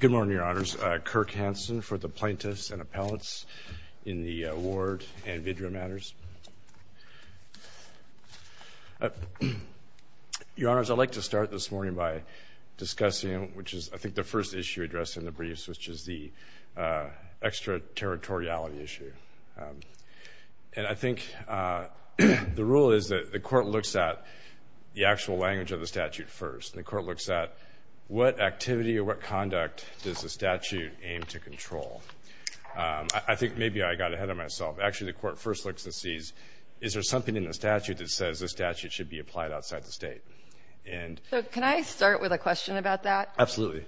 Good morning, Your Honors. Kirk Hanson for the plaintiffs and appellants in the Ward and video matters. Your Honors, I'd like to start this morning by discussing, which is, I think, the first issue addressed in the briefs, which is the extraterritoriality issue. And I think the rule is that the Court looks at the actual language of the statute first. And the Court looks at what activity or what conduct does the statute aim to control. I think maybe I got ahead of myself. Actually, the Court first looks and sees, is there something in the statute that says the statute should be applied outside the state? So can I start with a question about that? Absolutely.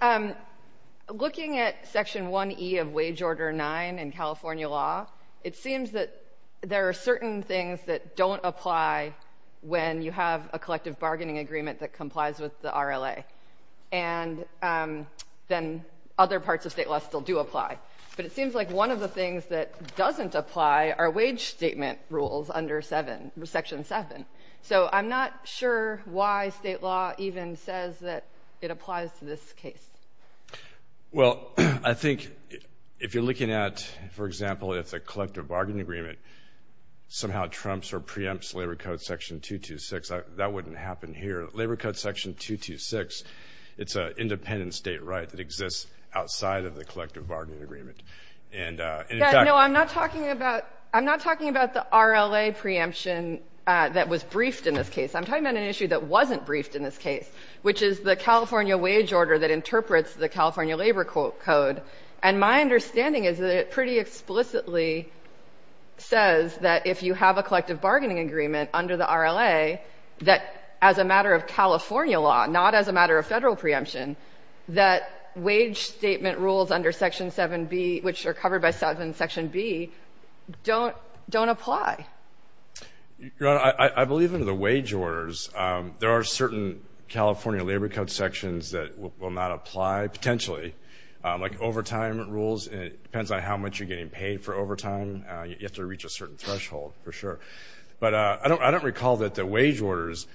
Looking at Section 1E of Wage Order 9 in California law, it seems that there are certain things that don't apply when you have a collective bargaining agreement that complies with the RLA. And then other parts of state law still do apply. But it seems like one of the things that doesn't apply are wage statement rules under Section 7. So I'm not sure why state law even says that it applies to this case. Well, I think if you're looking at, for example, if the collective bargaining agreement somehow trumps or preempts Labor Code Section 226, that wouldn't happen here. Labor Code Section 226, it's an independent state right that exists outside of the collective bargaining agreement. No, I'm not talking about the RLA preemption that was briefed in this case. I'm talking about an issue that wasn't briefed in this case, which is the California wage order that interprets the California Labor Code. And my understanding is that it pretty explicitly says that if you have a collective bargaining agreement under the RLA, that as a matter of California law, not as a matter of Federal preemption, that wage statement rules under Section 7B, which are covered by Section 7B, don't apply. Your Honor, I believe in the wage orders. There are certain California Labor Code sections that will not apply, potentially, like overtime rules. It depends on how much you're getting paid for overtime. You have to reach a certain threshold, for sure. But I don't recall that the wage orders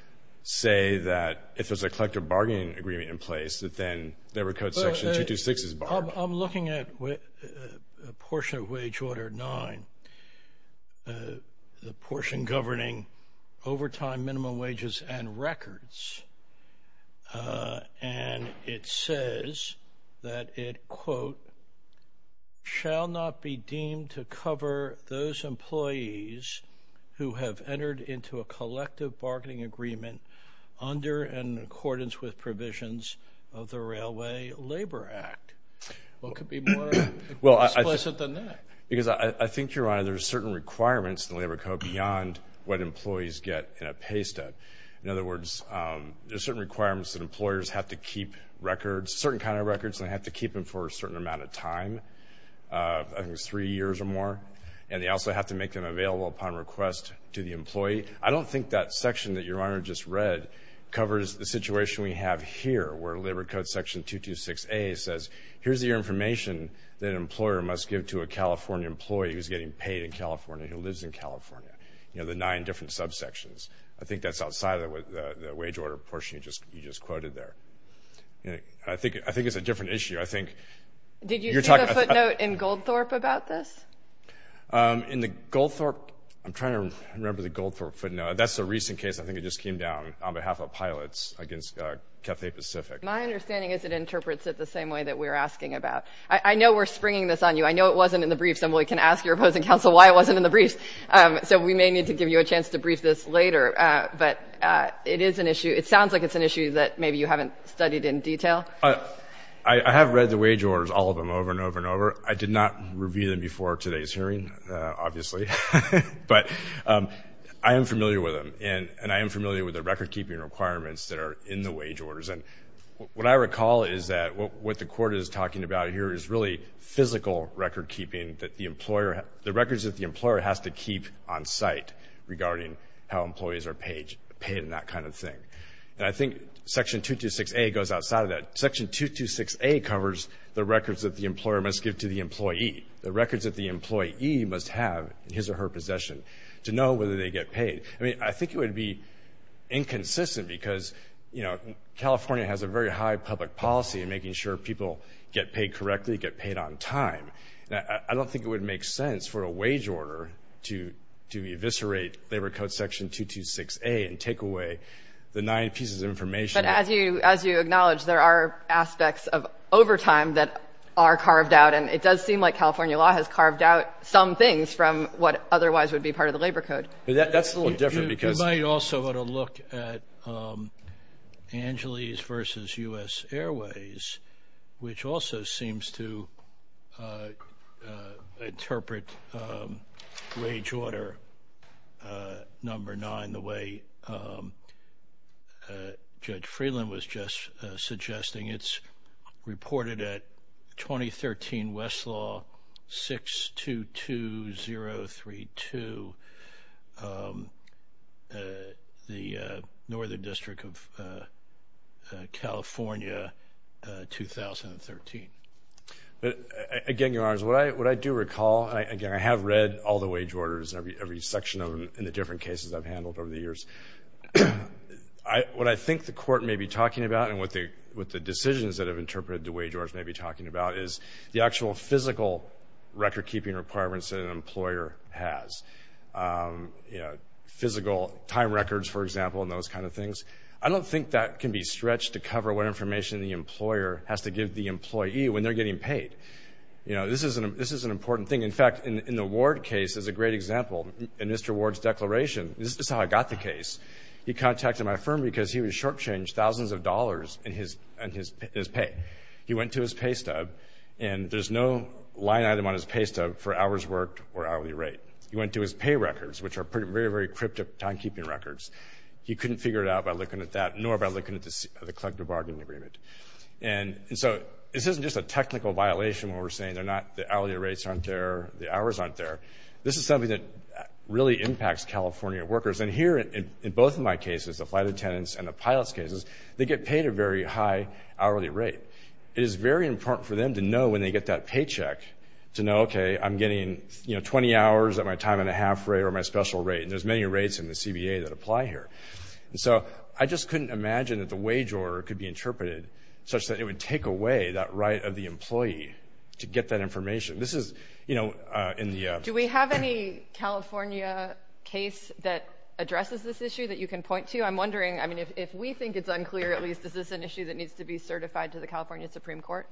say that if there's a collective bargaining agreement in place, that then Labor Code Section 226 is barred. I'm looking at a portion of Wage Order 9, the portion governing overtime, minimum wages, and records. And it says that it, quote, shall not be deemed to cover those employees who have entered into a collective bargaining agreement under and in accordance with provisions of the Railway Labor Act. What could be more explicit than that? Because I think, Your Honor, there are certain requirements in the Labor Code beyond what employees get in a pay stud. In other words, there are certain requirements that employers have to keep records, certain kind of records, and they have to keep them for a certain amount of time. I think it's three years or more. And they also have to make them available upon request to the employee. I don't think that section that Your Honor just read covers the situation we have here, where Labor Code Section 226A says, here's your information that an employer must give to a California employee who's getting paid in California, who lives in California, you know, the nine different subsections. I think that's outside of the wage order portion you just quoted there. I think it's a different issue. I think you're talking about. Did you see the footnote in Goldthorpe about this? In the Goldthorpe, I'm trying to remember the Goldthorpe footnote. That's a recent case. I think it just came down on behalf of pilots against Cathay Pacific. My understanding is it interprets it the same way that we're asking about. I know we're springing this on you. I know it wasn't in the briefs, and we can ask your opposing counsel why it wasn't in the briefs. So we may need to give you a chance to brief this later. But it is an issue. It sounds like it's an issue that maybe you haven't studied in detail. I have read the wage orders, all of them, over and over and over. I did not review them before today's hearing, obviously. But I am familiar with them, and I am familiar with the record-keeping requirements that are in the wage orders. And what I recall is that what the Court is talking about here is really physical record-keeping, meaning that the records that the employer has to keep on site regarding how employees are paid and that kind of thing. And I think Section 226A goes outside of that. Section 226A covers the records that the employer must give to the employee, the records that the employee must have in his or her possession to know whether they get paid. I mean, I think it would be inconsistent because, you know, California has a very high public policy in making sure people get paid correctly, get paid on time. I don't think it would make sense for a wage order to eviscerate Labor Code Section 226A and take away the nine pieces of information. But as you acknowledge, there are aspects of overtime that are carved out, and it does seem like California law has carved out some things from what otherwise would be part of the Labor Code. That's a little different because you might also want to look at Angeles versus U.S. Airways, which also seems to interpret wage order number nine the way Judge Freeland was just suggesting. It's reported at 2013 Westlaw 622032, the Northern District of California, 2013. Again, Your Honors, what I do recall, and, again, I have read all the wage orders, every section of them in the different cases I've handled over the years. What I think the Court may be talking about and what the decisions that have interpreted the wage order may be talking about is the actual physical record-keeping requirements that an employer has, you know, physical time records, for example, and those kind of things. I don't think that can be stretched to cover what information the employer has to give the employee when they're getting paid. You know, this is an important thing. In fact, in the Ward case is a great example. In Mr. Ward's declaration, this is how I got the case. He contacted my firm because he was shortchanged thousands of dollars in his pay. He went to his pay stub, and there's no line item on his pay stub for hours worked or hourly rate. He went to his pay records, which are very, very cryptic time-keeping records. He couldn't figure it out by looking at that, nor by looking at the collective bargaining agreement. And so this isn't just a technical violation where we're saying the hourly rates aren't there, the hours aren't there. This is something that really impacts California workers. And here, in both of my cases, the flight attendants and the pilot's cases, they get paid a very high hourly rate. It is very important for them to know when they get that paycheck to know, okay, I'm getting, you know, 20 hours at my time-and-a-half rate or my special rate, and there's many rates in the CBA that apply here. And so I just couldn't imagine that the wage order could be interpreted such that it would take away that right of the employee to get that information. This is, you know, in the ‑‑ Do we have any California case that addresses this issue that you can point to? I'm wondering, I mean, if we think it's unclear, at least, is this an issue that needs to be certified to the California Supreme Court?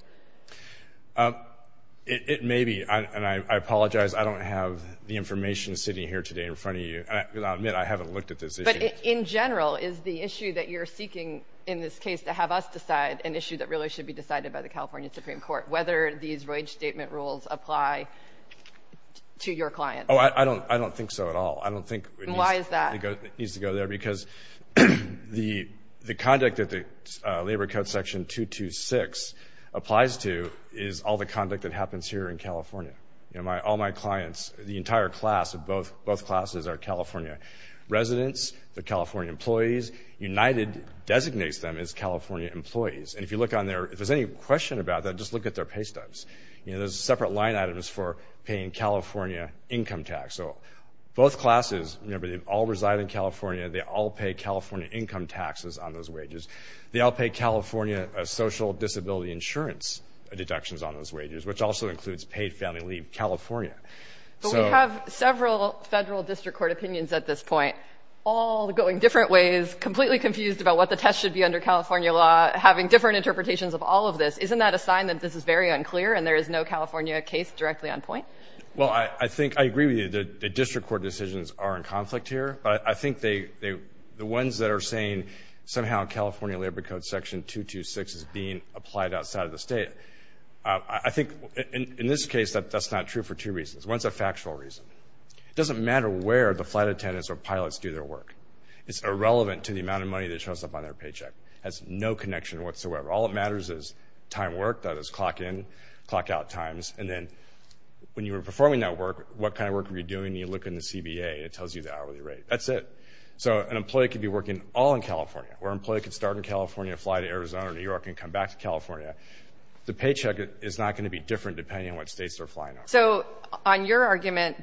It may be, and I apologize. I don't have the information sitting here today in front of you. I'll admit I haven't looked at this issue. But in general, is the issue that you're seeking in this case to have us decide an issue that really should be decided by the California Supreme Court, whether these wage statement rules apply to your client? Oh, I don't think so at all. I don't think it needs to go there. And why is that? Because the conduct that the Labor Code Section 226 applies to is all the conduct that happens here in California. You know, all my clients, the entire class of both classes are California residents, the California employees. United designates them as California employees. And if you look on there, if there's any question about that, just look at their pay stubs. You know, there's separate line items for paying California income tax. So both classes, remember, they all reside in California. They all pay California income taxes on those wages. They all pay California social disability insurance deductions on those wages, which also includes paid family leave, California. But we have several federal district court opinions at this point, all going different ways, completely confused about what the test should be under California law, having different interpretations of all of this. Isn't that a sign that this is very unclear and there is no California case directly on point? Well, I think I agree with you. The district court decisions are in conflict here. But I think the ones that are saying somehow California Labor Code Section 226 is being applied outside of the state, I think in this case that's not true for two reasons. One is a factual reason. It doesn't matter where the flight attendants or pilots do their work. It's irrelevant to the amount of money that shows up on their paycheck. It has no connection whatsoever. All that matters is time worked, that is clock in, clock out times. And then when you were performing that work, what kind of work were you doing? You look in the CBA, it tells you the hourly rate. That's it. So an employee could be working all in California, or an employee could start in California, fly to Arizona or New York, and come back to California. The paycheck is not going to be different depending on what states they're flying over. So on your argument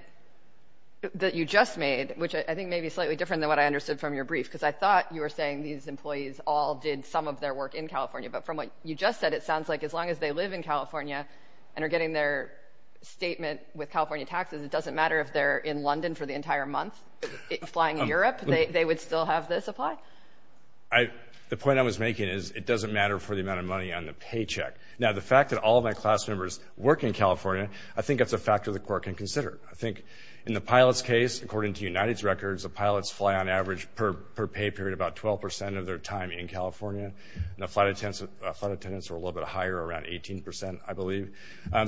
that you just made, which I think may be slightly different than what I understood from your brief, because I thought you were saying these employees all did some of their work in California. But from what you just said, it sounds like as long as they live in California and are getting their statement with California taxes, it doesn't matter if they're in London for the entire month flying in Europe, they would still have this apply? The point I was making is it doesn't matter for the amount of money on the paycheck. Now, the fact that all of my class members work in California, I think that's a factor the court can consider. I think in the pilot's case, according to United's records, the pilots fly on average per pay period about 12% of their time in California. And the flight attendants are a little bit higher, around 18%, I believe.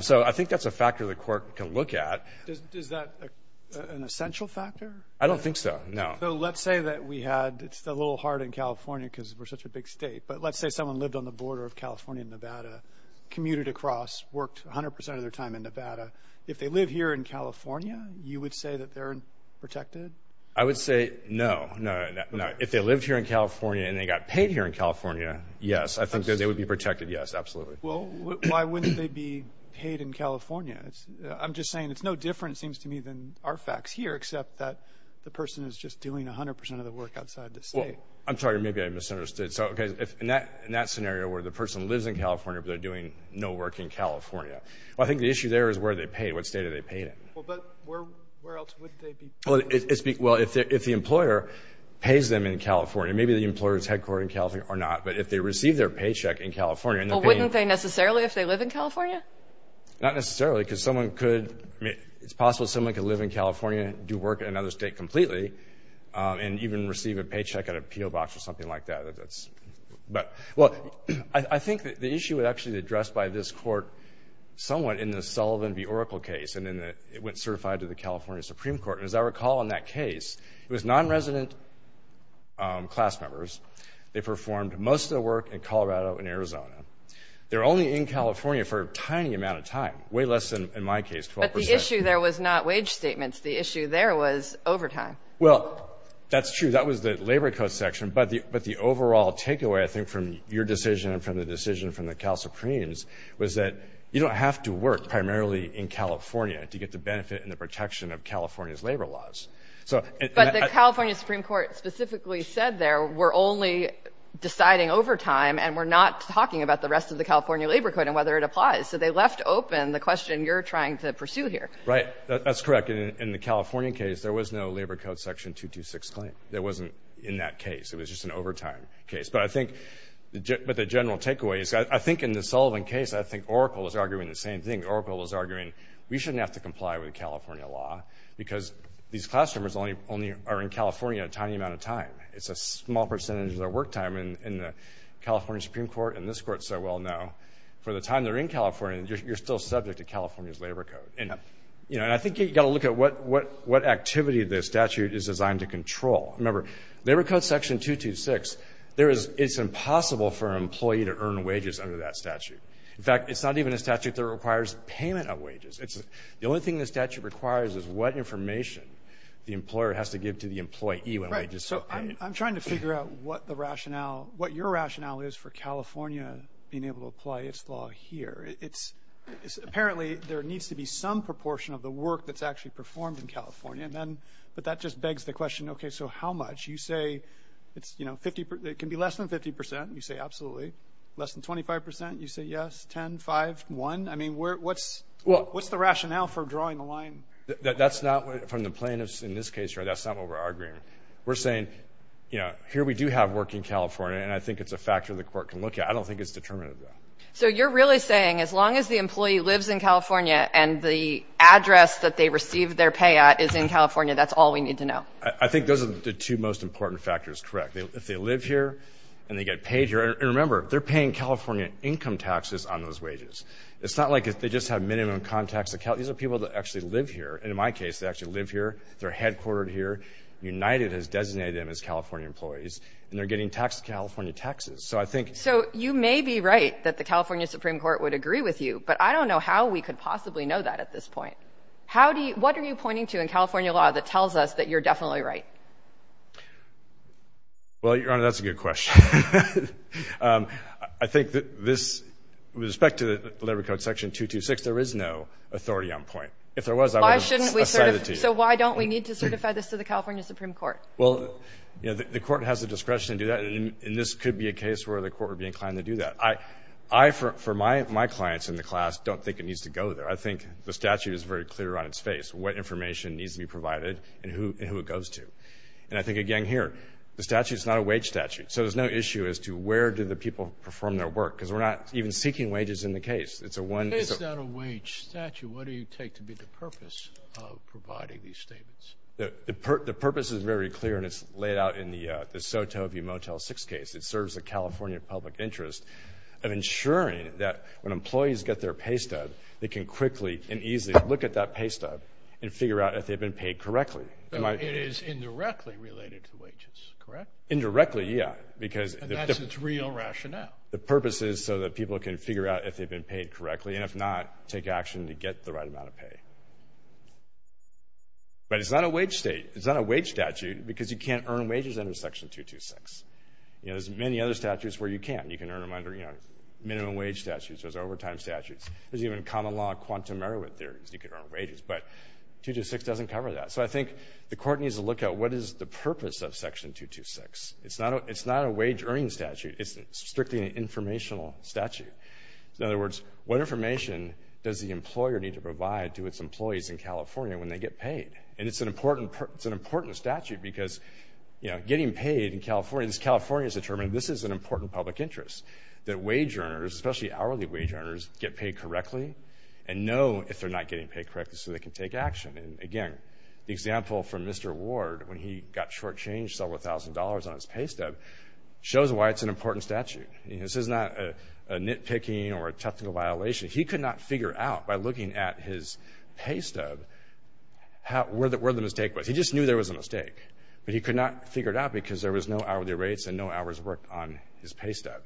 So I think that's a factor the court can look at. Is that an essential factor? I don't think so, no. So let's say that we had, it's a little hard in California because we're such a big state, but let's say someone lived on the border of California and Nevada, commuted across, worked 100% of their time in Nevada. If they live here in California, you would say that they're protected? I would say no. If they lived here in California and they got paid here in California, yes. I think that they would be protected, yes, absolutely. Well, why wouldn't they be paid in California? I'm just saying it's no different, it seems to me, than our facts here, except that the person is just doing 100% of the work outside the state. Well, I'm sorry, maybe I misunderstood. So, okay, in that scenario where the person lives in California but they're doing no work in California, well, I think the issue there is where are they paid, what state are they paid in? Well, but where else would they be paid? Well, if the employer pays them in California, maybe the employer is headquartered in California or not, but if they receive their paycheck in California and they're paying them. Well, wouldn't they necessarily if they live in California? Not necessarily because someone could, I mean, it's possible someone could live in California and do work in another state completely and even receive a paycheck at a P.O. Box or something like that. But, well, I think the issue would actually be addressed by this court somewhat in the Sullivan v. Oracle case, and then it went certified to the California Supreme Court. And as I recall in that case, it was nonresident class members. They performed most of the work in Colorado and Arizona. They were only in California for a tiny amount of time, way less than in my case, 12%. The issue there was not wage statements. The issue there was overtime. Well, that's true. That was the Labor Code section. But the overall takeaway, I think, from your decision and from the decision from the Cal Supremes was that you don't have to work primarily in California to get the benefit and the protection of California's labor laws. But the California Supreme Court specifically said there we're only deciding overtime and we're not talking about the rest of the California Labor Code and whether it applies. So they left open the question you're trying to pursue here. Right. That's correct. In the California case, there was no Labor Code section 226 claim. There wasn't in that case. It was just an overtime case. But I think the general takeaway is I think in the Sullivan case, I think Oracle was arguing the same thing. Oracle was arguing we shouldn't have to comply with California law because these class members only are in California a tiny amount of time. It's a small percentage of their work time in the California Supreme Court and this Court so well know. For the time they're in California, you're still subject to California's Labor Code. And I think you've got to look at what activity the statute is designed to control. Remember, Labor Code section 226, it's impossible for an employee to earn wages under that statute. In fact, it's not even a statute that requires payment of wages. The only thing the statute requires is what information the employer has to give to the employee when wages are paid. So I'm trying to figure out what your rationale is for California being able to apply its law here. Apparently, there needs to be some proportion of the work that's actually performed in California. But that just begs the question, okay, so how much? You say it can be less than 50 percent. You say absolutely. Less than 25 percent. You say yes, 10, 5, 1. I mean, what's the rationale for drawing the line? That's not from the plaintiffs in this case. That's not what we're arguing. We're saying, you know, here we do have work in California, and I think it's a factor the court can look at. I don't think it's determinative though. So you're really saying as long as the employee lives in California and the address that they receive their pay at is in California, that's all we need to know? I think those are the two most important factors, correct. If they live here and they get paid here. And remember, they're paying California income taxes on those wages. It's not like they just have minimum contacts. These are people that actually live here. And in my case, they actually live here. They're headquartered here. United has designated them as California employees, and they're getting taxed California taxes. So you may be right that the California Supreme Court would agree with you, but I don't know how we could possibly know that at this point. What are you pointing to in California law that tells us that you're definitely right? Well, Your Honor, that's a good question. I think with respect to the Labor Code Section 226, there is no authority on point. If there was, I would have cited it to you. So why don't we need to certify this to the California Supreme Court? Well, you know, the court has the discretion to do that, and this could be a case where the court would be inclined to do that. I, for my clients in the class, don't think it needs to go there. I think the statute is very clear on its face, what information needs to be provided and who it goes to. And I think, again, here, the statute is not a wage statute, so there's no issue as to where do the people perform their work, because we're not even seeking wages in the case. The case is not a wage statute. What do you take to be the purpose of providing these statements? The purpose is very clear, and it's laid out in the Sotovia Motel 6 case. It serves the California public interest of ensuring that when employees get their pay stub, they can quickly and easily look at that pay stub and figure out if they've been paid correctly. So it is indirectly related to wages, correct? Indirectly, yeah. And that's its real rationale? The purpose is so that people can figure out if they've been paid correctly, and if not, take action to get the right amount of pay. But it's not a wage statute because you can't earn wages under Section 226. There's many other statutes where you can. You can earn them under minimum wage statutes. There's overtime statutes. There's even common law quantum merit theories. You can earn wages. But 226 doesn't cover that. So I think the court needs to look at what is the purpose of Section 226. It's not a wage-earning statute. It's strictly an informational statute. In other words, what information does the employer need to provide to its employees in California when they get paid? And it's an important statute because, you know, getting paid in California, because California has determined this is an important public interest, that wage earners, especially hourly wage earners, get paid correctly and know if they're not getting paid correctly so they can take action. And, again, the example from Mr. Ward when he got shortchanged several thousand dollars on his pay stub shows why it's an important statute. You know, this is not a nitpicking or a technical violation. He could not figure out by looking at his pay stub where the mistake was. He just knew there was a mistake. But he could not figure it out because there was no hourly rates and no hours worked on his pay stub.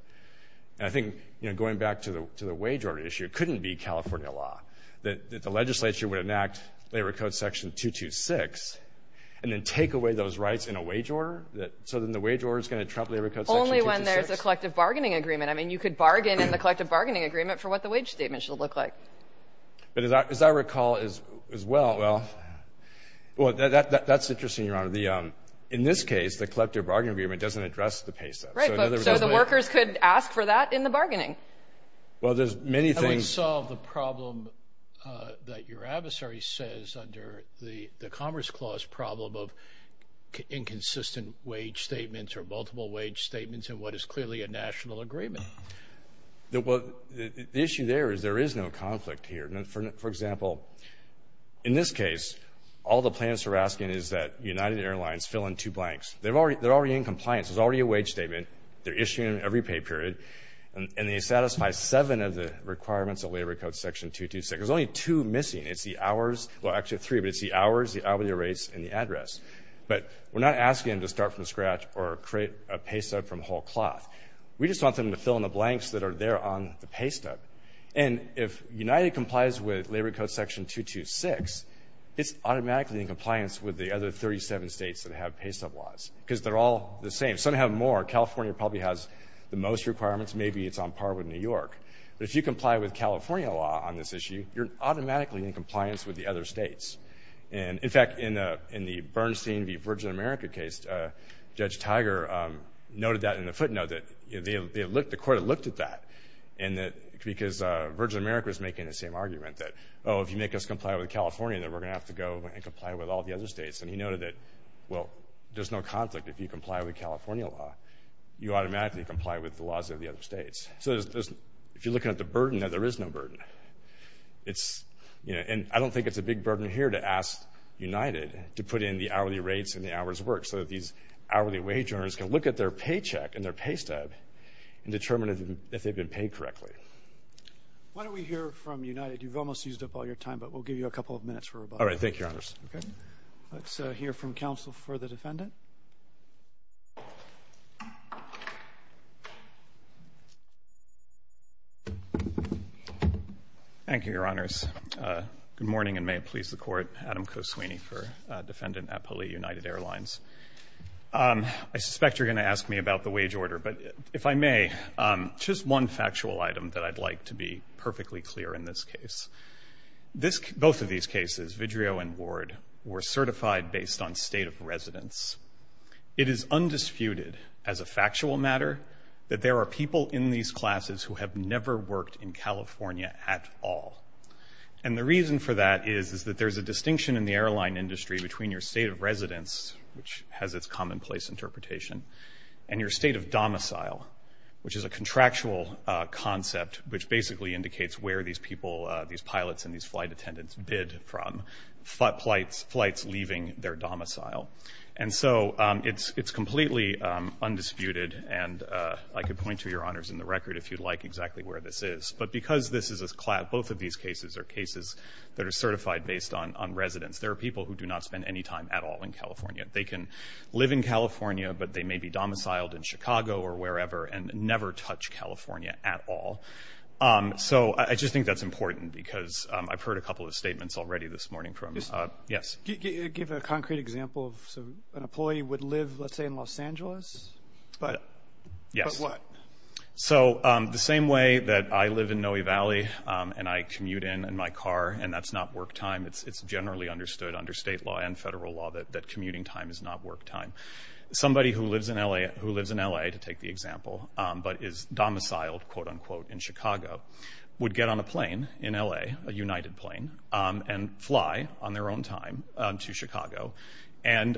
And I think, you know, going back to the wage order issue, it couldn't be California law that the legislature would enact Labor Code Section 226 and then take away those rights in a wage order only when there's a collective bargaining agreement. I mean, you could bargain in the collective bargaining agreement for what the wage statement should look like. But as I recall as well, well, that's interesting, Your Honor. In this case, the collective bargaining agreement doesn't address the pay stub. So the workers could ask for that in the bargaining. Well, there's many things. How do we solve the problem that your adversary says under the Commerce Clause problem of inconsistent wage statements or multiple wage statements in what is clearly a national agreement? The issue there is there is no conflict here. For example, in this case, all the plans are asking is that United Airlines fill in two blanks. They're already in compliance. There's already a wage statement. They're issuing it in every pay period. And they satisfy seven of the requirements of Labor Code Section 226. There's only two missing. Well, actually three, but it's the hours, the hourly rates, and the address. But we're not asking them to start from scratch or create a pay stub from whole cloth. We just want them to fill in the blanks that are there on the pay stub. And if United complies with Labor Code Section 226, it's automatically in compliance with the other 37 states that have pay stub laws because they're all the same. Some have more. California probably has the most requirements. Maybe it's on par with New York. But if you comply with California law on this issue, you're automatically in compliance with the other states. And, in fact, in the Bernstein v. Virgin America case, Judge Tiger noted that in the footnote that the court had looked at that because Virgin America was making the same argument that, oh, if you make us comply with California, then we're going to have to go and comply with all the other states. And he noted that, well, there's no conflict if you comply with California law. You automatically comply with the laws of the other states. So if you're looking at the burden, there is no burden. And I don't think it's a big burden here to ask United to put in the hourly rates and the hours worked so that these hourly wage earners can look at their paycheck and their pay stub and determine if they've been paid correctly. Why don't we hear from United? You've almost used up all your time, but we'll give you a couple of minutes for rebuttal. All right. Thank you, Your Honor. Let's hear from counsel for the defendant. Thank you, Your Honors. Good morning, and may it please the Court. Adam Koswini for Defendant at Pulley United Airlines. I suspect you're going to ask me about the wage order, but if I may, just one factual item that I'd like to be perfectly clear in this case. Both of these cases, Vidrio and Ward, were certified based on state of residence. It is undisputed as a factual matter that there are people in these classes who have never worked in California at all. And the reason for that is that there's a distinction in the airline industry between your state of residence, which has its commonplace interpretation, and your state of domicile, which is a contractual concept, which basically indicates where these people, these pilots and these flight attendants, bid from, flights leaving their domicile. And so it's completely undisputed, and I could point to, Your Honors, in the record if you'd like exactly where this is. But because both of these cases are cases that are certified based on residence, there are people who do not spend any time at all in California. They can live in California, but they may be domiciled in Chicago or wherever and never touch California at all. So I just think that's important because I've heard a couple of statements already this morning. Yes? Give a concrete example of an employee would live, let's say, in Los Angeles, but what? So the same way that I live in Noe Valley and I commute in my car and that's not work time, it's generally understood under state law and federal law that commuting time is not work time. Somebody who lives in L.A., to take the example, but is domiciled, quote, unquote, in Chicago, would get on a plane in L.A., a United plane, and fly on their own time to Chicago. And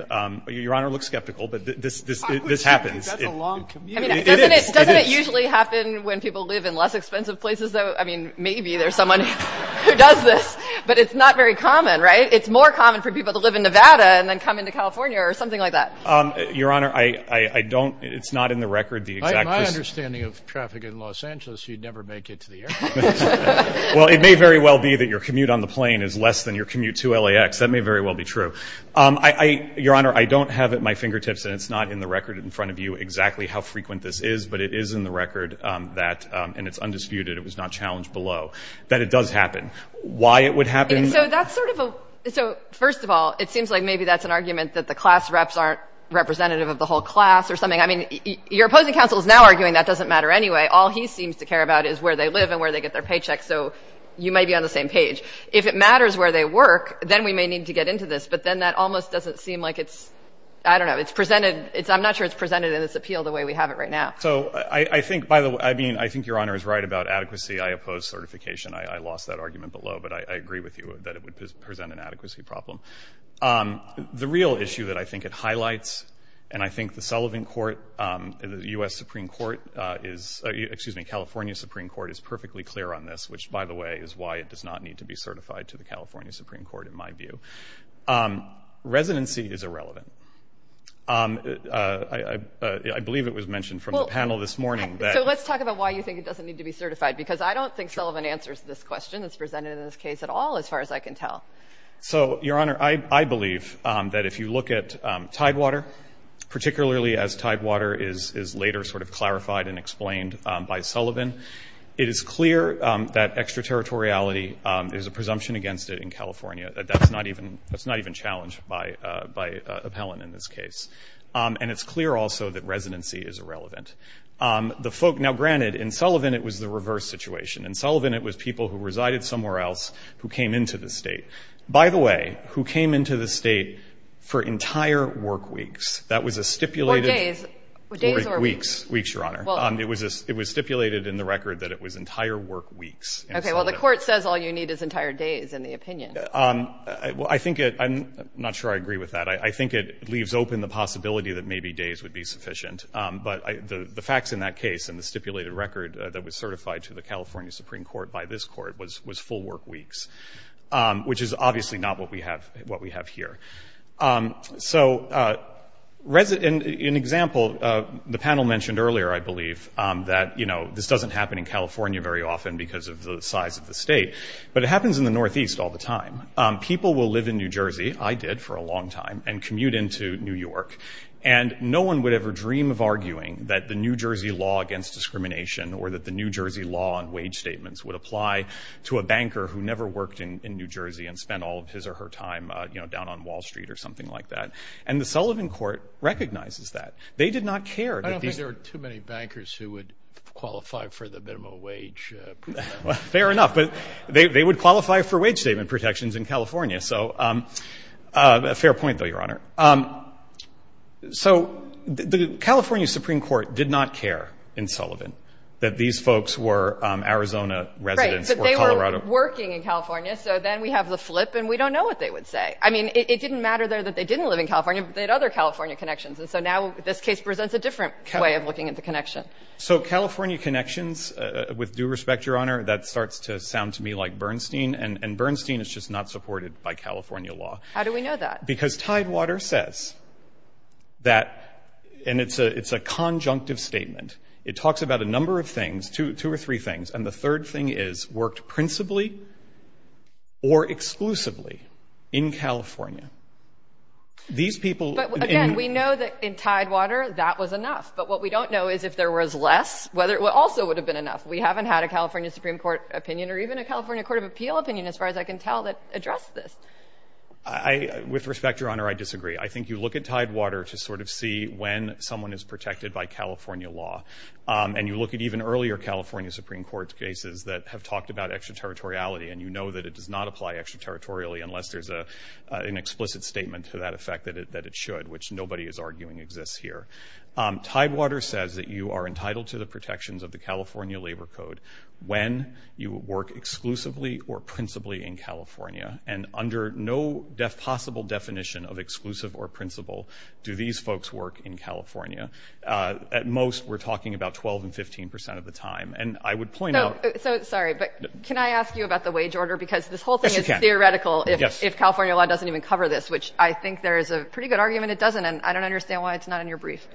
Your Honor looks skeptical, but this happens. That's a long commute. It is. Doesn't it usually happen when people live in less expensive places, though? I mean, maybe there's someone who does this, but it's not very common, right? It's more common for people to live in Nevada and then come into California or something like that. Your Honor, I don't, it's not in the record. My understanding of traffic in Los Angeles, you'd never make it to the airport. Well, it may very well be that your commute on the plane is less than your commute to L.A.X. That may very well be true. Your Honor, I don't have it at my fingertips, and it's not in the record in front of you exactly how frequent this is, but it is in the record that, and it's undisputed, it was not challenged below, that it does happen. Why it would happen? So that's sort of a, so first of all, it seems like maybe that's an argument that the class reps aren't representative of the whole class or something. I mean, your opposing counsel is now arguing that doesn't matter anyway. All he seems to care about is where they live and where they get their paychecks, so you may be on the same page. If it matters where they work, then we may need to get into this, but then that almost doesn't seem like it's, I don't know, it's presented, I'm not sure it's presented in this appeal the way we have it right now. So I think, by the way, I mean, I think Your Honor is right about adequacy. I oppose certification. I lost that argument below, but I agree with you that it would present an adequacy problem. The real issue that I think it highlights, and I think the Sullivan Court, the U.S. Supreme Court is, excuse me, California Supreme Court is perfectly clear on this, which, by the way, is why it does not need to be certified to the California Supreme Court in my view. Residency is irrelevant. I believe it was mentioned from the panel this morning. So let's talk about why you think it doesn't need to be certified, because I don't think Sullivan answers this question that's presented in this case at all as far as I can tell. So, Your Honor, I believe that if you look at Tidewater, particularly as Tidewater is later sort of clarified and explained by Sullivan, it is clear that extraterritoriality is a presumption against it in California. That's not even challenged by appellant in this case. And it's clear also that residency is irrelevant. Now, granted, in Sullivan it was the reverse situation. In Sullivan it was people who resided somewhere else who came into the State. By the way, who came into the State for entire work weeks. That was a stipulated — Or days. Days or weeks. Weeks, Your Honor. It was stipulated in the record that it was entire work weeks. Okay. Well, the Court says all you need is entire days in the opinion. Well, I think it — I'm not sure I agree with that. I think it leaves open the possibility that maybe days would be sufficient. But the facts in that case and the stipulated record that was certified to the California Supreme Court by this Court was full work weeks, which is obviously not what we have here. So, in example, the panel mentioned earlier, I believe, that, you know, this doesn't happen in California very often because of the size of the State. But it happens in the Northeast all the time. People will live in New Jersey. I did for a long time, and commute into New York. And no one would ever dream of arguing that the New Jersey law against discrimination or that the New Jersey law on wage statements would apply to a banker who never worked in New Jersey and spent all of his or her time, you know, down on Wall Street or something like that. And the Sullivan Court recognizes that. They did not care that these — I don't think there were too many bankers who would qualify for the minimum wage protections. Fair enough. But they would qualify for wage statement protections in California. So a fair point, though, Your Honor. So the California Supreme Court did not care in Sullivan that these folks were Arizona residents or Colorado. Right. But they were working in California. So then we have the flip, and we don't know what they would say. I mean, it didn't matter there that they didn't live in California, but they had other California connections. And so now this case presents a different way of looking at the connection. So California connections, with due respect, Your Honor, that starts to sound to me like Bernstein. And Bernstein is just not supported by California law. How do we know that? Because Tidewater says that — and it's a conjunctive statement. It talks about a number of things, two or three things. And the third thing is worked principally or exclusively in California. These people — But, again, we know that in Tidewater that was enough. But what we don't know is if there was less, whether it also would have been enough. We haven't had a California Supreme Court opinion or even a California Court of Appeal opinion, as far as I can tell, that addressed this. With respect, Your Honor, I disagree. I think you look at Tidewater to sort of see when someone is protected by California law. And you look at even earlier California Supreme Court cases that have talked about extraterritoriality, and you know that it does not apply extraterritorially unless there's an explicit statement to that effect that it should, which nobody is arguing exists here. Tidewater says that you are entitled to the protections of the California Labor Code when you work exclusively or principally in California. And under no possible definition of exclusive or principal do these folks work in California. At most, we're talking about 12 and 15 percent of the time. And I would point out — So, sorry, but can I ask you about the wage order? Because this whole thing is theoretical if California law doesn't even cover this, which I think there is a pretty good argument it doesn't. And I don't understand why it's not in your brief.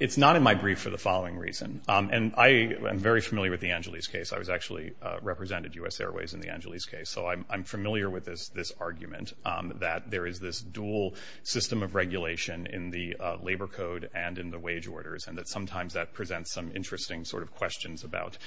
It's not in my brief for the following reason. And I am very familiar with the Angeles case. I was actually — represented U.S. Airways in the Angeles case. So I'm familiar with this argument that there is this dual system of regulation in the Labor Code and in the wage orders, and that sometimes that presents some interesting sort of questions about,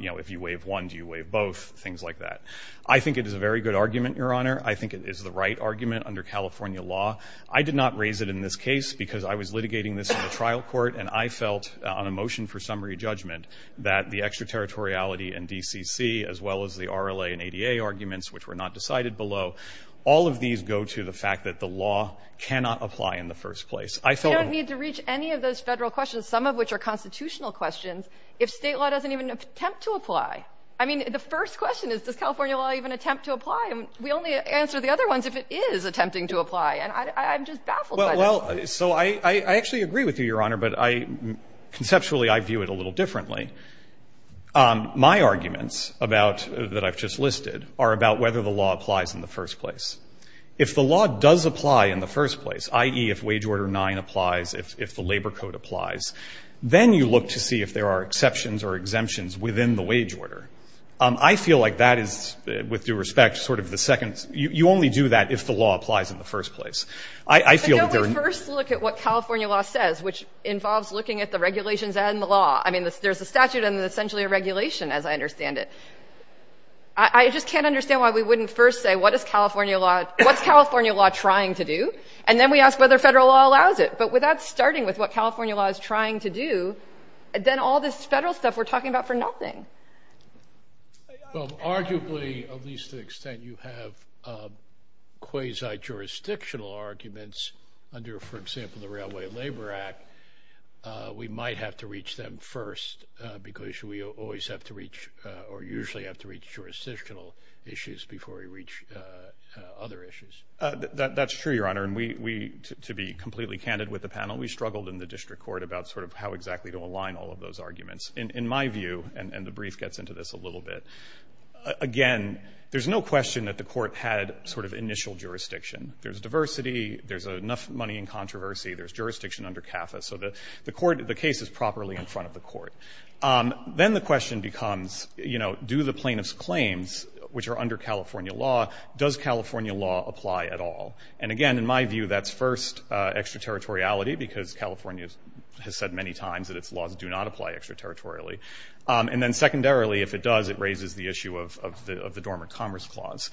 you know, if you waive one, do you waive both, things like that. I think it is a very good argument, Your Honor. I think it is the right argument under California law. I did not raise it in this case because I was litigating this in the trial court, and I felt on a motion for summary judgment that the extraterritoriality and DCC, as well as the RLA and ADA arguments, which were not decided below, all of these go to the fact that the law cannot apply in the first place. I felt — You don't need to reach any of those Federal questions, some of which are constitutional questions, if State law doesn't even attempt to apply. I mean, the first question is, does California law even attempt to apply? And we only answer the other ones if it is attempting to apply. And I'm just baffled by this. Well, so I actually agree with you, Your Honor, but I — conceptually, I view it a little differently. My arguments about — that I've just listed are about whether the law applies in the first place. If the law does apply in the first place, i.e., if Wage Order 9 applies, if the Labor Code applies, then you look to see if there are exceptions or exemptions within the wage order. I feel like that is, with due respect, sort of the second — you only do that if the law applies in the first place. I feel that there are — But don't we first look at what California law says, which involves looking at the regulations and the law? I mean, there's a statute and essentially a regulation, as I understand it. I just can't understand why we wouldn't first say, what is California law — what's California law trying to do? And then we ask whether Federal law allows it. But without starting with what California law is trying to do, then all this Federal stuff we're talking about for nothing. Well, arguably, at least to the extent you have quasi-jurisdictional arguments under, for example, the Railway Labor Act, we might have to reach them first because we always have to reach — or usually have to reach jurisdictional issues before we reach other issues. That's true, Your Honor. And we — to be completely candid with the panel, we struggled in the district court about sort of how exactly to align all of those arguments. In my view — and the brief gets into this a little bit — again, there's no question that the court had sort of initial jurisdiction. There's diversity. There's enough money in controversy. There's jurisdiction under CAFA. So the court — the case is properly in front of the court. Then the question becomes, you know, do the plaintiff's claims, which are under California law, does California law apply at all? And again, in my view, that's first extraterritoriality because California has said many times that its laws do not apply extraterritorially. And then secondarily, if it does, it raises the issue of the Dormant Commerce Clause.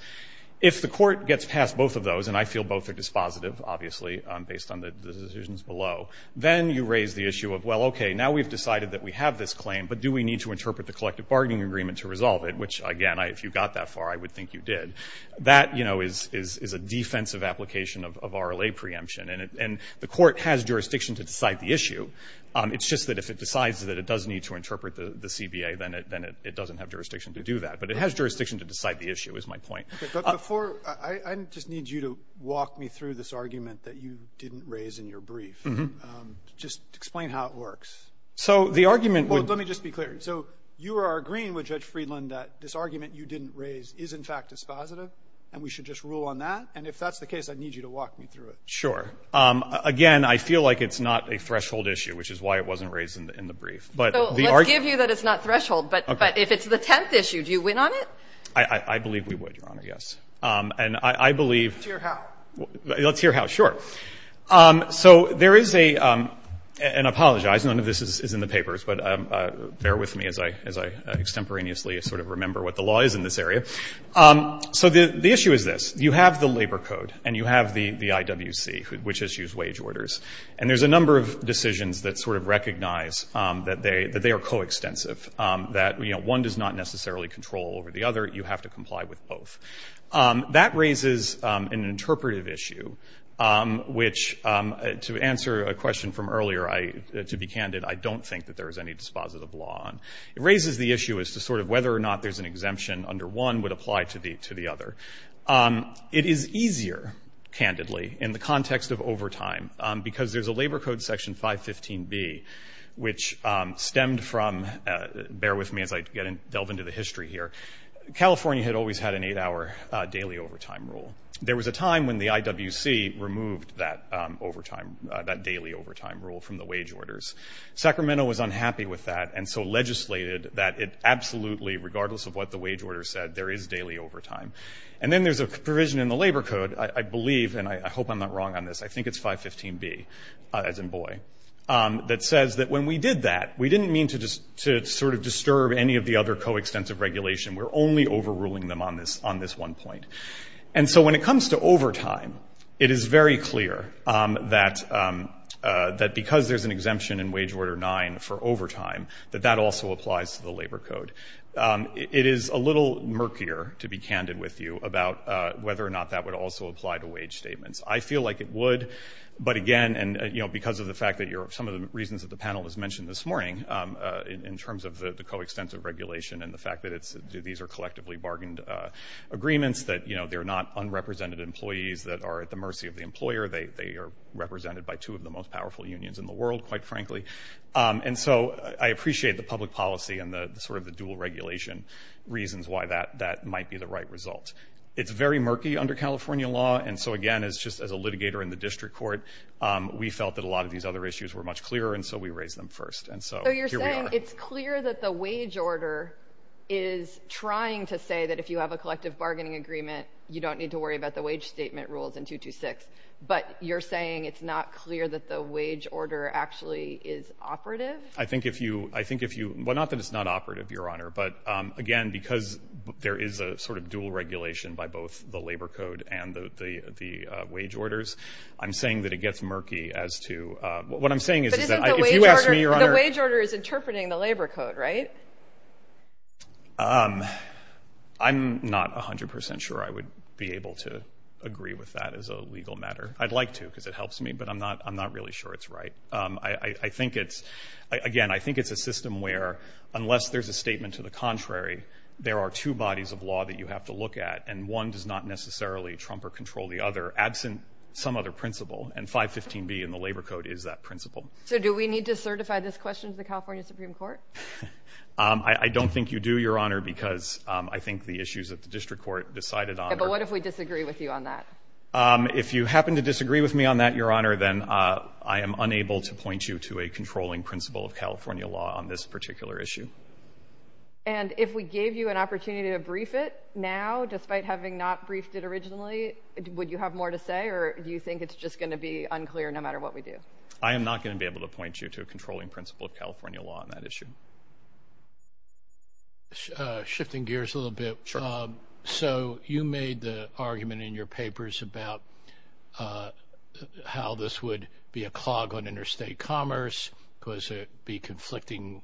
If the court gets past both of those, and I feel both are dispositive, obviously, based on the decisions below, then you raise the issue of, well, okay, now we've decided that we have this claim, but do we need to interpret the collective bargaining agreement to resolve it, which, again, if you got that far, I would think you did. That, you know, is a defensive application of RLA preemption. And the court has jurisdiction to decide the issue. It's just that if it decides that it does need to interpret the CBA, then it doesn't have jurisdiction to do that. But it has jurisdiction to decide the issue, is my point. But before — I just need you to walk me through this argument that you didn't raise in your brief. Mm-hmm. Just explain how it works. So the argument would — Well, let me just be clear. So you are agreeing with Judge Friedland that this argument you didn't raise is, in fact, dispositive, and we should just rule on that? And if that's the case, I need you to walk me through it. Sure. Again, I feel like it's not a threshold issue, which is why it wasn't raised in the But the argument — So let's give you that it's not threshold, but if it's the tenth issue, do you win on it? I believe we would, Your Honor, yes. And I believe — Let's hear how. Let's hear how. Sure. So there is a — and I apologize, none of this is in the papers, but bear with me as I extemporaneously sort of remember what the law is in this area. So the issue is this. You have the labor code and you have the IWC, which issues wage orders, and there's a number of decisions that sort of recognize that they are coextensive, that, you know, one does not necessarily control over the other. You have to comply with both. That raises an interpretive issue, which, to answer a question from earlier, to be candid, I don't think that there is any dispositive law on. It raises the issue as to sort of whether or not there's an exemption under one would apply to the other. It is easier, candidly, in the context of overtime, because there's a labor code, Section 515B, which stemmed from — bear with me as I delve into the history here — California had always had an eight-hour daily overtime rule. There was a time when the IWC removed that overtime — that daily overtime rule from the wage orders. Sacramento was unhappy with that and so legislated that it absolutely, regardless of what the wage order said, there is daily overtime. And then there's a provision in the labor code, I believe — and I hope I'm not wrong on this — I think it's 515B, as in boy, that says that when we did that, we didn't mean to sort of disturb any of the other coextensive regulation. We're only overruling them on this one point. And so when it comes to overtime, it is very clear that because there's an exemption in Wage Order 9 for overtime, that that also applies to the labor code. It is a little murkier, to be candid with you, about whether or not that would also apply to wage statements. I feel like it would, but again, because of the fact that some of the reasons that the panel has mentioned this morning, in terms of the coextensive regulation and the fact that these are collectively bargained agreements, that they're not unrepresented employees that are at the mercy of the employer. They are represented by two of the most powerful unions in the world, quite frankly. And so I appreciate the public policy and sort of the dual regulation reasons why that might be the right result. It's very murky under California law. And so again, just as a litigator in the district court, we felt that a lot of these other issues were much clearer, and so we raised them first. And so here we are. It's clear that the wage order is trying to say that if you have a collective bargaining agreement, you don't need to worry about the wage statement rules in 226. But you're saying it's not clear that the wage order actually is operative? I think if you – well, not that it's not operative, Your Honor. But again, because there is a sort of dual regulation by both the labor code and the wage orders, I'm saying that it gets murky as to – what I'm saying is that if you The wage order is interpreting the labor code, right? I'm not 100 percent sure I would be able to agree with that as a legal matter. I'd like to because it helps me, but I'm not really sure it's right. I think it's – again, I think it's a system where unless there's a statement to the contrary, there are two bodies of law that you have to look at, and one does not necessarily trump or control the other, absent some other principle. And 515B in the labor code is that principle. So do we need to certify this question to the California Supreme Court? I don't think you do, Your Honor, because I think the issues that the district court decided on – But what if we disagree with you on that? If you happen to disagree with me on that, Your Honor, then I am unable to point you to a controlling principle of California law on this particular issue. And if we gave you an opportunity to brief it now, despite having not briefed it originally, would you have more to say, or do you think it's just going to be unclear no matter what we do? I am not going to be able to point you to a controlling principle of California law on that issue. Shifting gears a little bit, so you made the argument in your papers about how this would be a clog on interstate commerce because it would be conflicting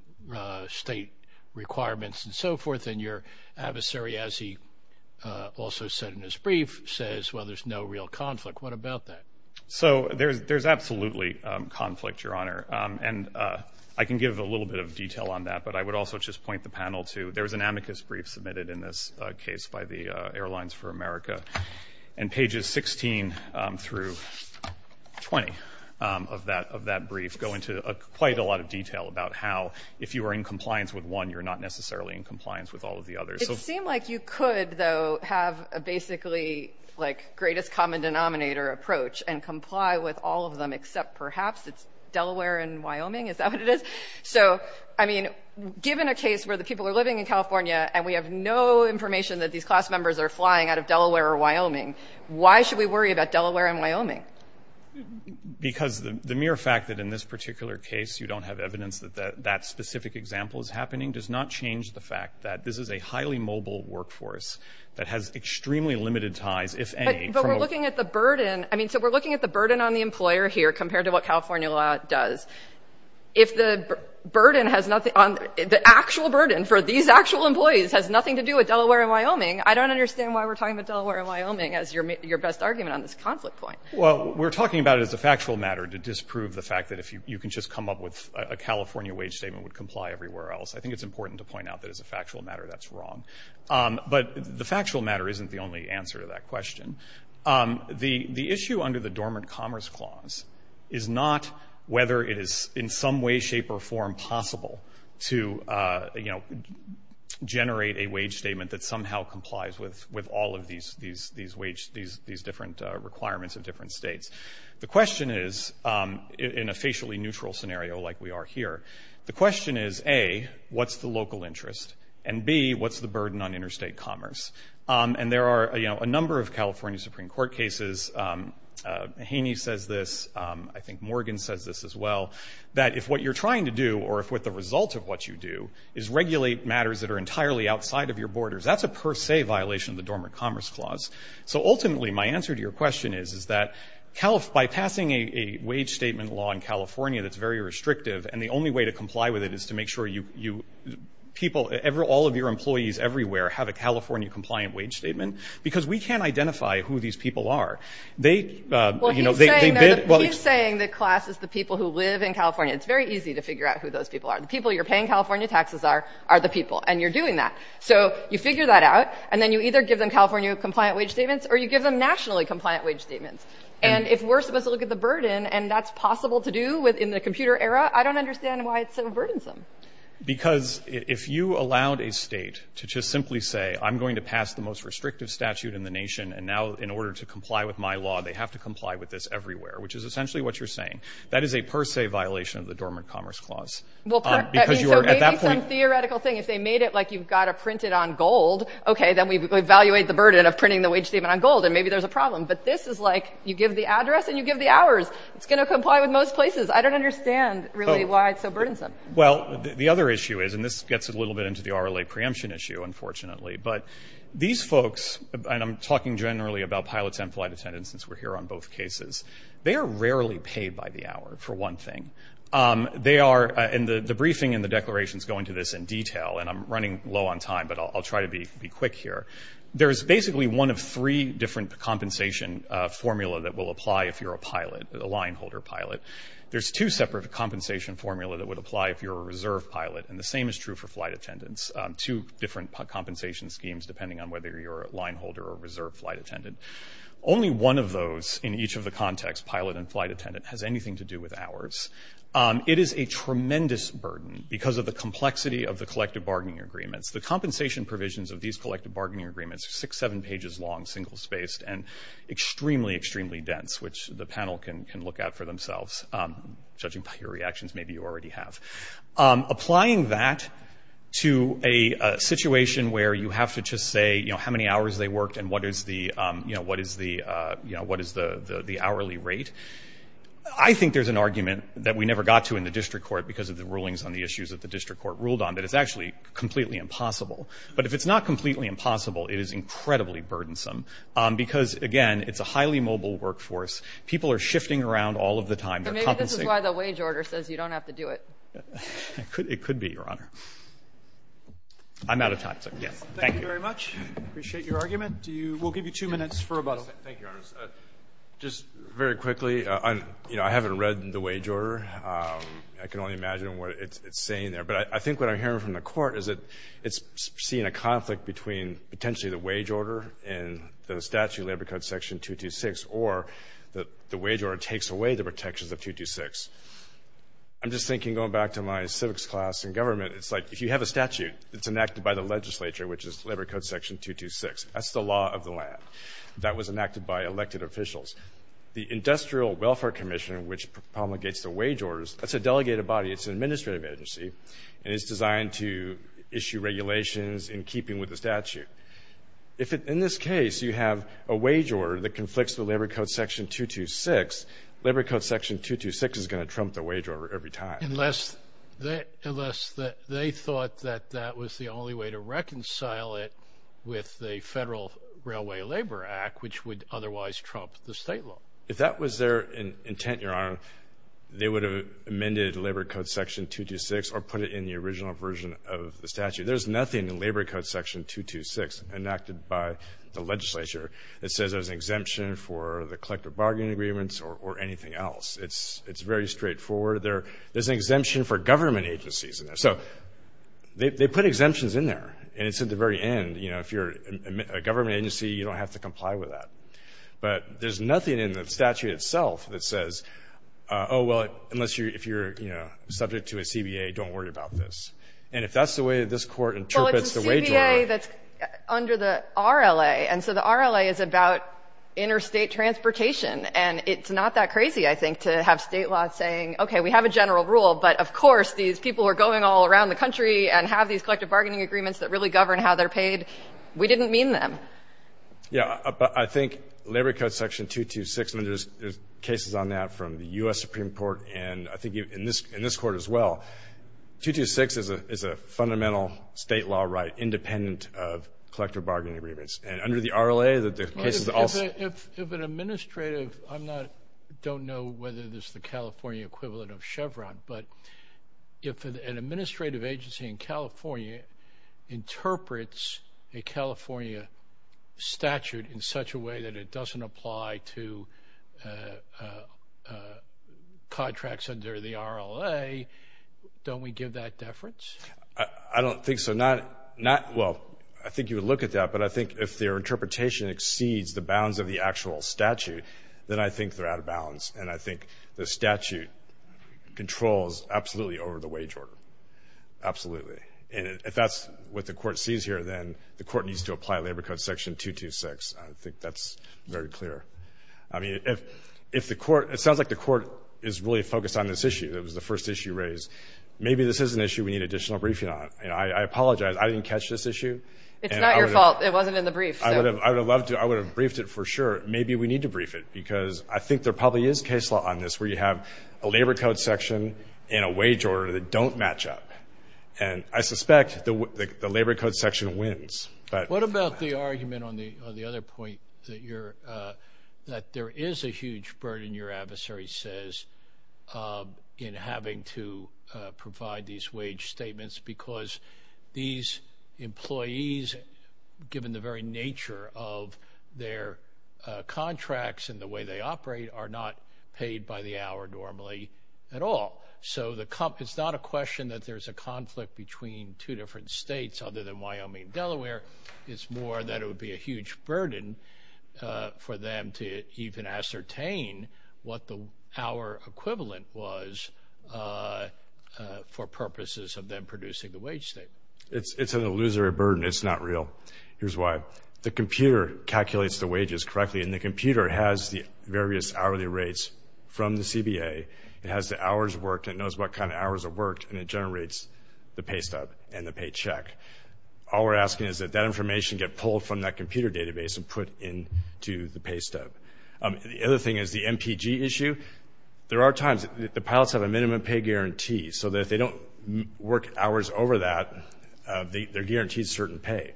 state requirements and so forth, and your adversary, as he also said in his brief, says, well, there's no real conflict. What about that? So there's absolutely conflict, Your Honor. And I can give a little bit of detail on that, but I would also just point the panel to – there was an amicus brief submitted in this case by the Airlines for America, and pages 16 through 20 of that brief go into quite a lot of detail about how, if you were in compliance with one, you're not necessarily in compliance with all of the others. It seemed like you could, though, have a basically, like, greatest common denominator approach and comply with all of them except perhaps it's Delaware and Wyoming? Is that what it is? So, I mean, given a case where the people are living in California and we have no information that these class members are flying out of Delaware or Wyoming, why should we worry about Delaware and Wyoming? Because the mere fact that in this particular case you don't have evidence that that specific example is happening does not change the fact that this is a highly mobile workforce that has extremely limited ties, if any, from over – We're looking at the burden. I mean, so we're looking at the burden on the employer here compared to what California law does. If the burden has nothing – the actual burden for these actual employees has nothing to do with Delaware and Wyoming, I don't understand why we're talking about Delaware and Wyoming as your best argument on this conflict point. Well, we're talking about it as a factual matter to disprove the fact that if you can just come up with a California wage statement would comply everywhere else. I think it's important to point out that as a factual matter that's wrong. But the factual matter isn't the only answer to that question. The issue under the Dormant Commerce Clause is not whether it is in some way, shape, or form possible to generate a wage statement that somehow complies with all of these different requirements of different states. The question is, in a facially neutral scenario like we are here, the question is, A, what's the local interest? And, B, what's the burden on interstate commerce? And there are a number of California Supreme Court cases – Haney says this, I think Morgan says this as well – that if what you're trying to do or if what the result of what you do is regulate matters that are entirely outside of your borders, that's a per se violation of the Dormant Commerce Clause. So ultimately my answer to your question is that by passing a wage statement law in California that's very restrictive and the only way to comply with it is to make sure all of your employees everywhere have a California-compliant wage statement because we can't identify who these people are. He's saying the class is the people who live in California. It's very easy to figure out who those people are. The people you're paying California taxes are are the people and you're doing that. So you figure that out and then you either give them California-compliant wage statements or you give them nationally-compliant wage statements. And if we're supposed to look at the burden and that's possible to do in the Because if you allowed a state to just simply say, I'm going to pass the most restrictive statute in the nation and now in order to comply with my law they have to comply with this everywhere, which is essentially what you're saying. That is a per se violation of the Dormant Commerce Clause. So maybe some theoretical thing. If they made it like you've got to print it on gold, okay, then we evaluate the burden of printing the wage statement on gold and maybe there's a problem. But this is like you give the address and you give the hours. It's going to comply with most places. I don't understand really why it's so burdensome. Well, the other issue is, and this gets a little bit into the RLA preemption issue, unfortunately, but these folks, and I'm talking generally about pilots and flight attendants since we're here on both cases, they are rarely paid by the hour for one thing. They are, and the briefing and the declarations go into this in detail, and I'm running low on time, but I'll try to be quick here. There's basically one of three different compensation formula that will apply if you're a pilot, a lineholder pilot. There's two separate compensation formula that would apply if you're a reserve pilot, and the same is true for flight attendants, two different compensation schemes depending on whether you're a lineholder or a reserve flight attendant. Only one of those in each of the contexts, pilot and flight attendant, has anything to do with hours. It is a tremendous burden because of the complexity of the collective bargaining agreements. The compensation provisions of these collective bargaining agreements are six, seven pages long, single spaced, and extremely, extremely dense, which the panel can look at for themselves. Judging by your reactions, maybe you already have. Applying that to a situation where you have to just say, you know, how many hours they worked and what is the hourly rate, I think there's an argument that we never got to in the district court because of the rulings on the issues that the district court ruled on that it's actually completely impossible. But if it's not completely impossible, it is incredibly burdensome because, again, it's a highly mobile workforce. People are shifting around all of the time. They're compensating. So maybe this is why the wage order says you don't have to do it. It could be, Your Honor. I'm out of time. Thank you. Thank you very much. I appreciate your argument. We'll give you two minutes for rebuttal. Thank you, Your Honors. Just very quickly, you know, I haven't read the wage order. I can only imagine what it's saying there. But I think what I'm hearing from the Court is that it's seeing a conflict between potentially the wage order and the statute, Labor Code Section 226, or the wage order takes away the protections of 226. I'm just thinking, going back to my civics class in government, it's like if you have a statute, it's enacted by the legislature, which is Labor Code Section 226. That's the law of the land. That was enacted by elected officials. The Industrial Welfare Commission, which promulgates the wage orders, that's a delegated body. It's an administrative agency. And it's designed to issue regulations in keeping with the statute. If, in this case, you have a wage order that conflicts with Labor Code Section 226, Labor Code Section 226 is going to trump the wage order every time. Unless they thought that that was the only way to reconcile it with the Federal Railway Labor Act, which would otherwise trump the state law. If that was their intent, Your Honor, they would have amended Labor Code Section 226 or put it in the original version of the statute. There's nothing in Labor Code Section 226, enacted by the legislature, that says there's an exemption for the collective bargaining agreements or anything else. It's very straightforward. There's an exemption for government agencies in there. So they put exemptions in there, and it's at the very end. You know, if you're a government agency, you don't have to comply with that. But there's nothing in the statute itself that says, oh, well, unless you're, you know, subject to a CBA, don't worry about this. And if that's the way this Court interprets the wage order. Well, it's a CBA that's under the RLA. And so the RLA is about interstate transportation. And it's not that crazy, I think, to have state law saying, okay, we have a general rule, but of course these people are going all around the country and have these collective bargaining agreements that really govern how they're paid. We didn't mean them. Yeah. But I think Labor Code Section 226, and there's cases on that from the U.S. Supreme Court and I think in this Court as well, 226 is a fundamental state law right, independent of collective bargaining agreements. And under the RLA, the cases also – If an administrative – I don't know whether this is the California equivalent of Chevron, but if an administrative agency in California interprets a California statute in such a way that it doesn't apply to contracts under the RLA, don't we give that deference? I don't think so. Not – well, I think you would look at that, but I think if their interpretation exceeds the bounds of the actual statute, then I think they're out of bounds. And I think the statute controls absolutely over the wage order. Absolutely. And if that's what the Court sees here, then the Court needs to apply Labor Code Section 226. I think that's very clear. I mean, if the Court – it sounds like the Court is really focused on this issue. It was the first issue raised. Maybe this is an issue we need additional briefing on. I apologize. I didn't catch this issue. It's not your fault. It wasn't in the brief. I would have loved to – I would have briefed it for sure. Maybe we need to brief it because I think there probably is case law on this where you have a Labor Code section and a wage order that don't match up. And I suspect the Labor Code section wins. What about the argument on the other point that you're – that there is a huge burden, your adversary says, in having to provide these wage statements because these employees, given the very nature of their contracts and the way they operate, are not paid by the hour normally at all. So the – it's not a question that there's a conflict between two different states other than Wyoming and Delaware. It's more that it would be a huge burden for them to even ascertain what the hour equivalent was for purposes of them producing the wage statement. It's an illusory burden. It's not real. Here's why. The computer calculates the wages correctly, and the computer has the various hourly rates from the CBA. It has the hours worked. It knows what kind of hours are worked, and it generates the pay stub and the paycheck. All we're asking is that that information get pulled from that computer database and put into the pay stub. The other thing is the MPG issue. There are times that the pilots have a minimum pay guarantee so that if they don't work hours over that, they're guaranteed certain pay.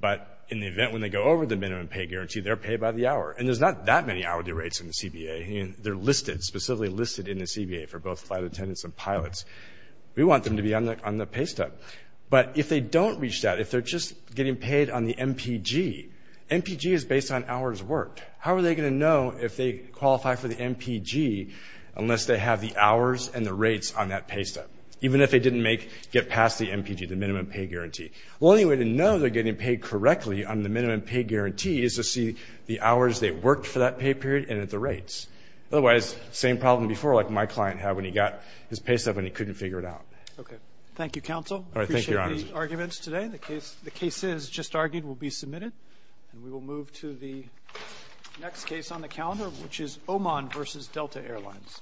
But in the event when they go over the minimum pay guarantee, they're paid by the hour. And there's not that many hourly rates in the CBA. They're listed, specifically listed in the CBA for both flight attendants and pilots. We want them to be on the pay stub. But if they don't reach that, if they're just getting paid on the MPG, MPG is based on hours worked. How are they going to know if they qualify for the MPG unless they have the hours and the rates on that pay stub, even if they didn't make, get past the MPG, the minimum pay guarantee? The only way to know they're getting paid correctly on the minimum pay guarantee is to see the hours they worked for that pay period and at the rates. Otherwise, same problem before like my client had when he got his pay stub and he couldn't figure it out. Okay. Thank you, Counsel. I appreciate the arguments today. The cases just argued will be submitted. And we will move to the next case on the calendar, which is Oman versus Delta Airlines.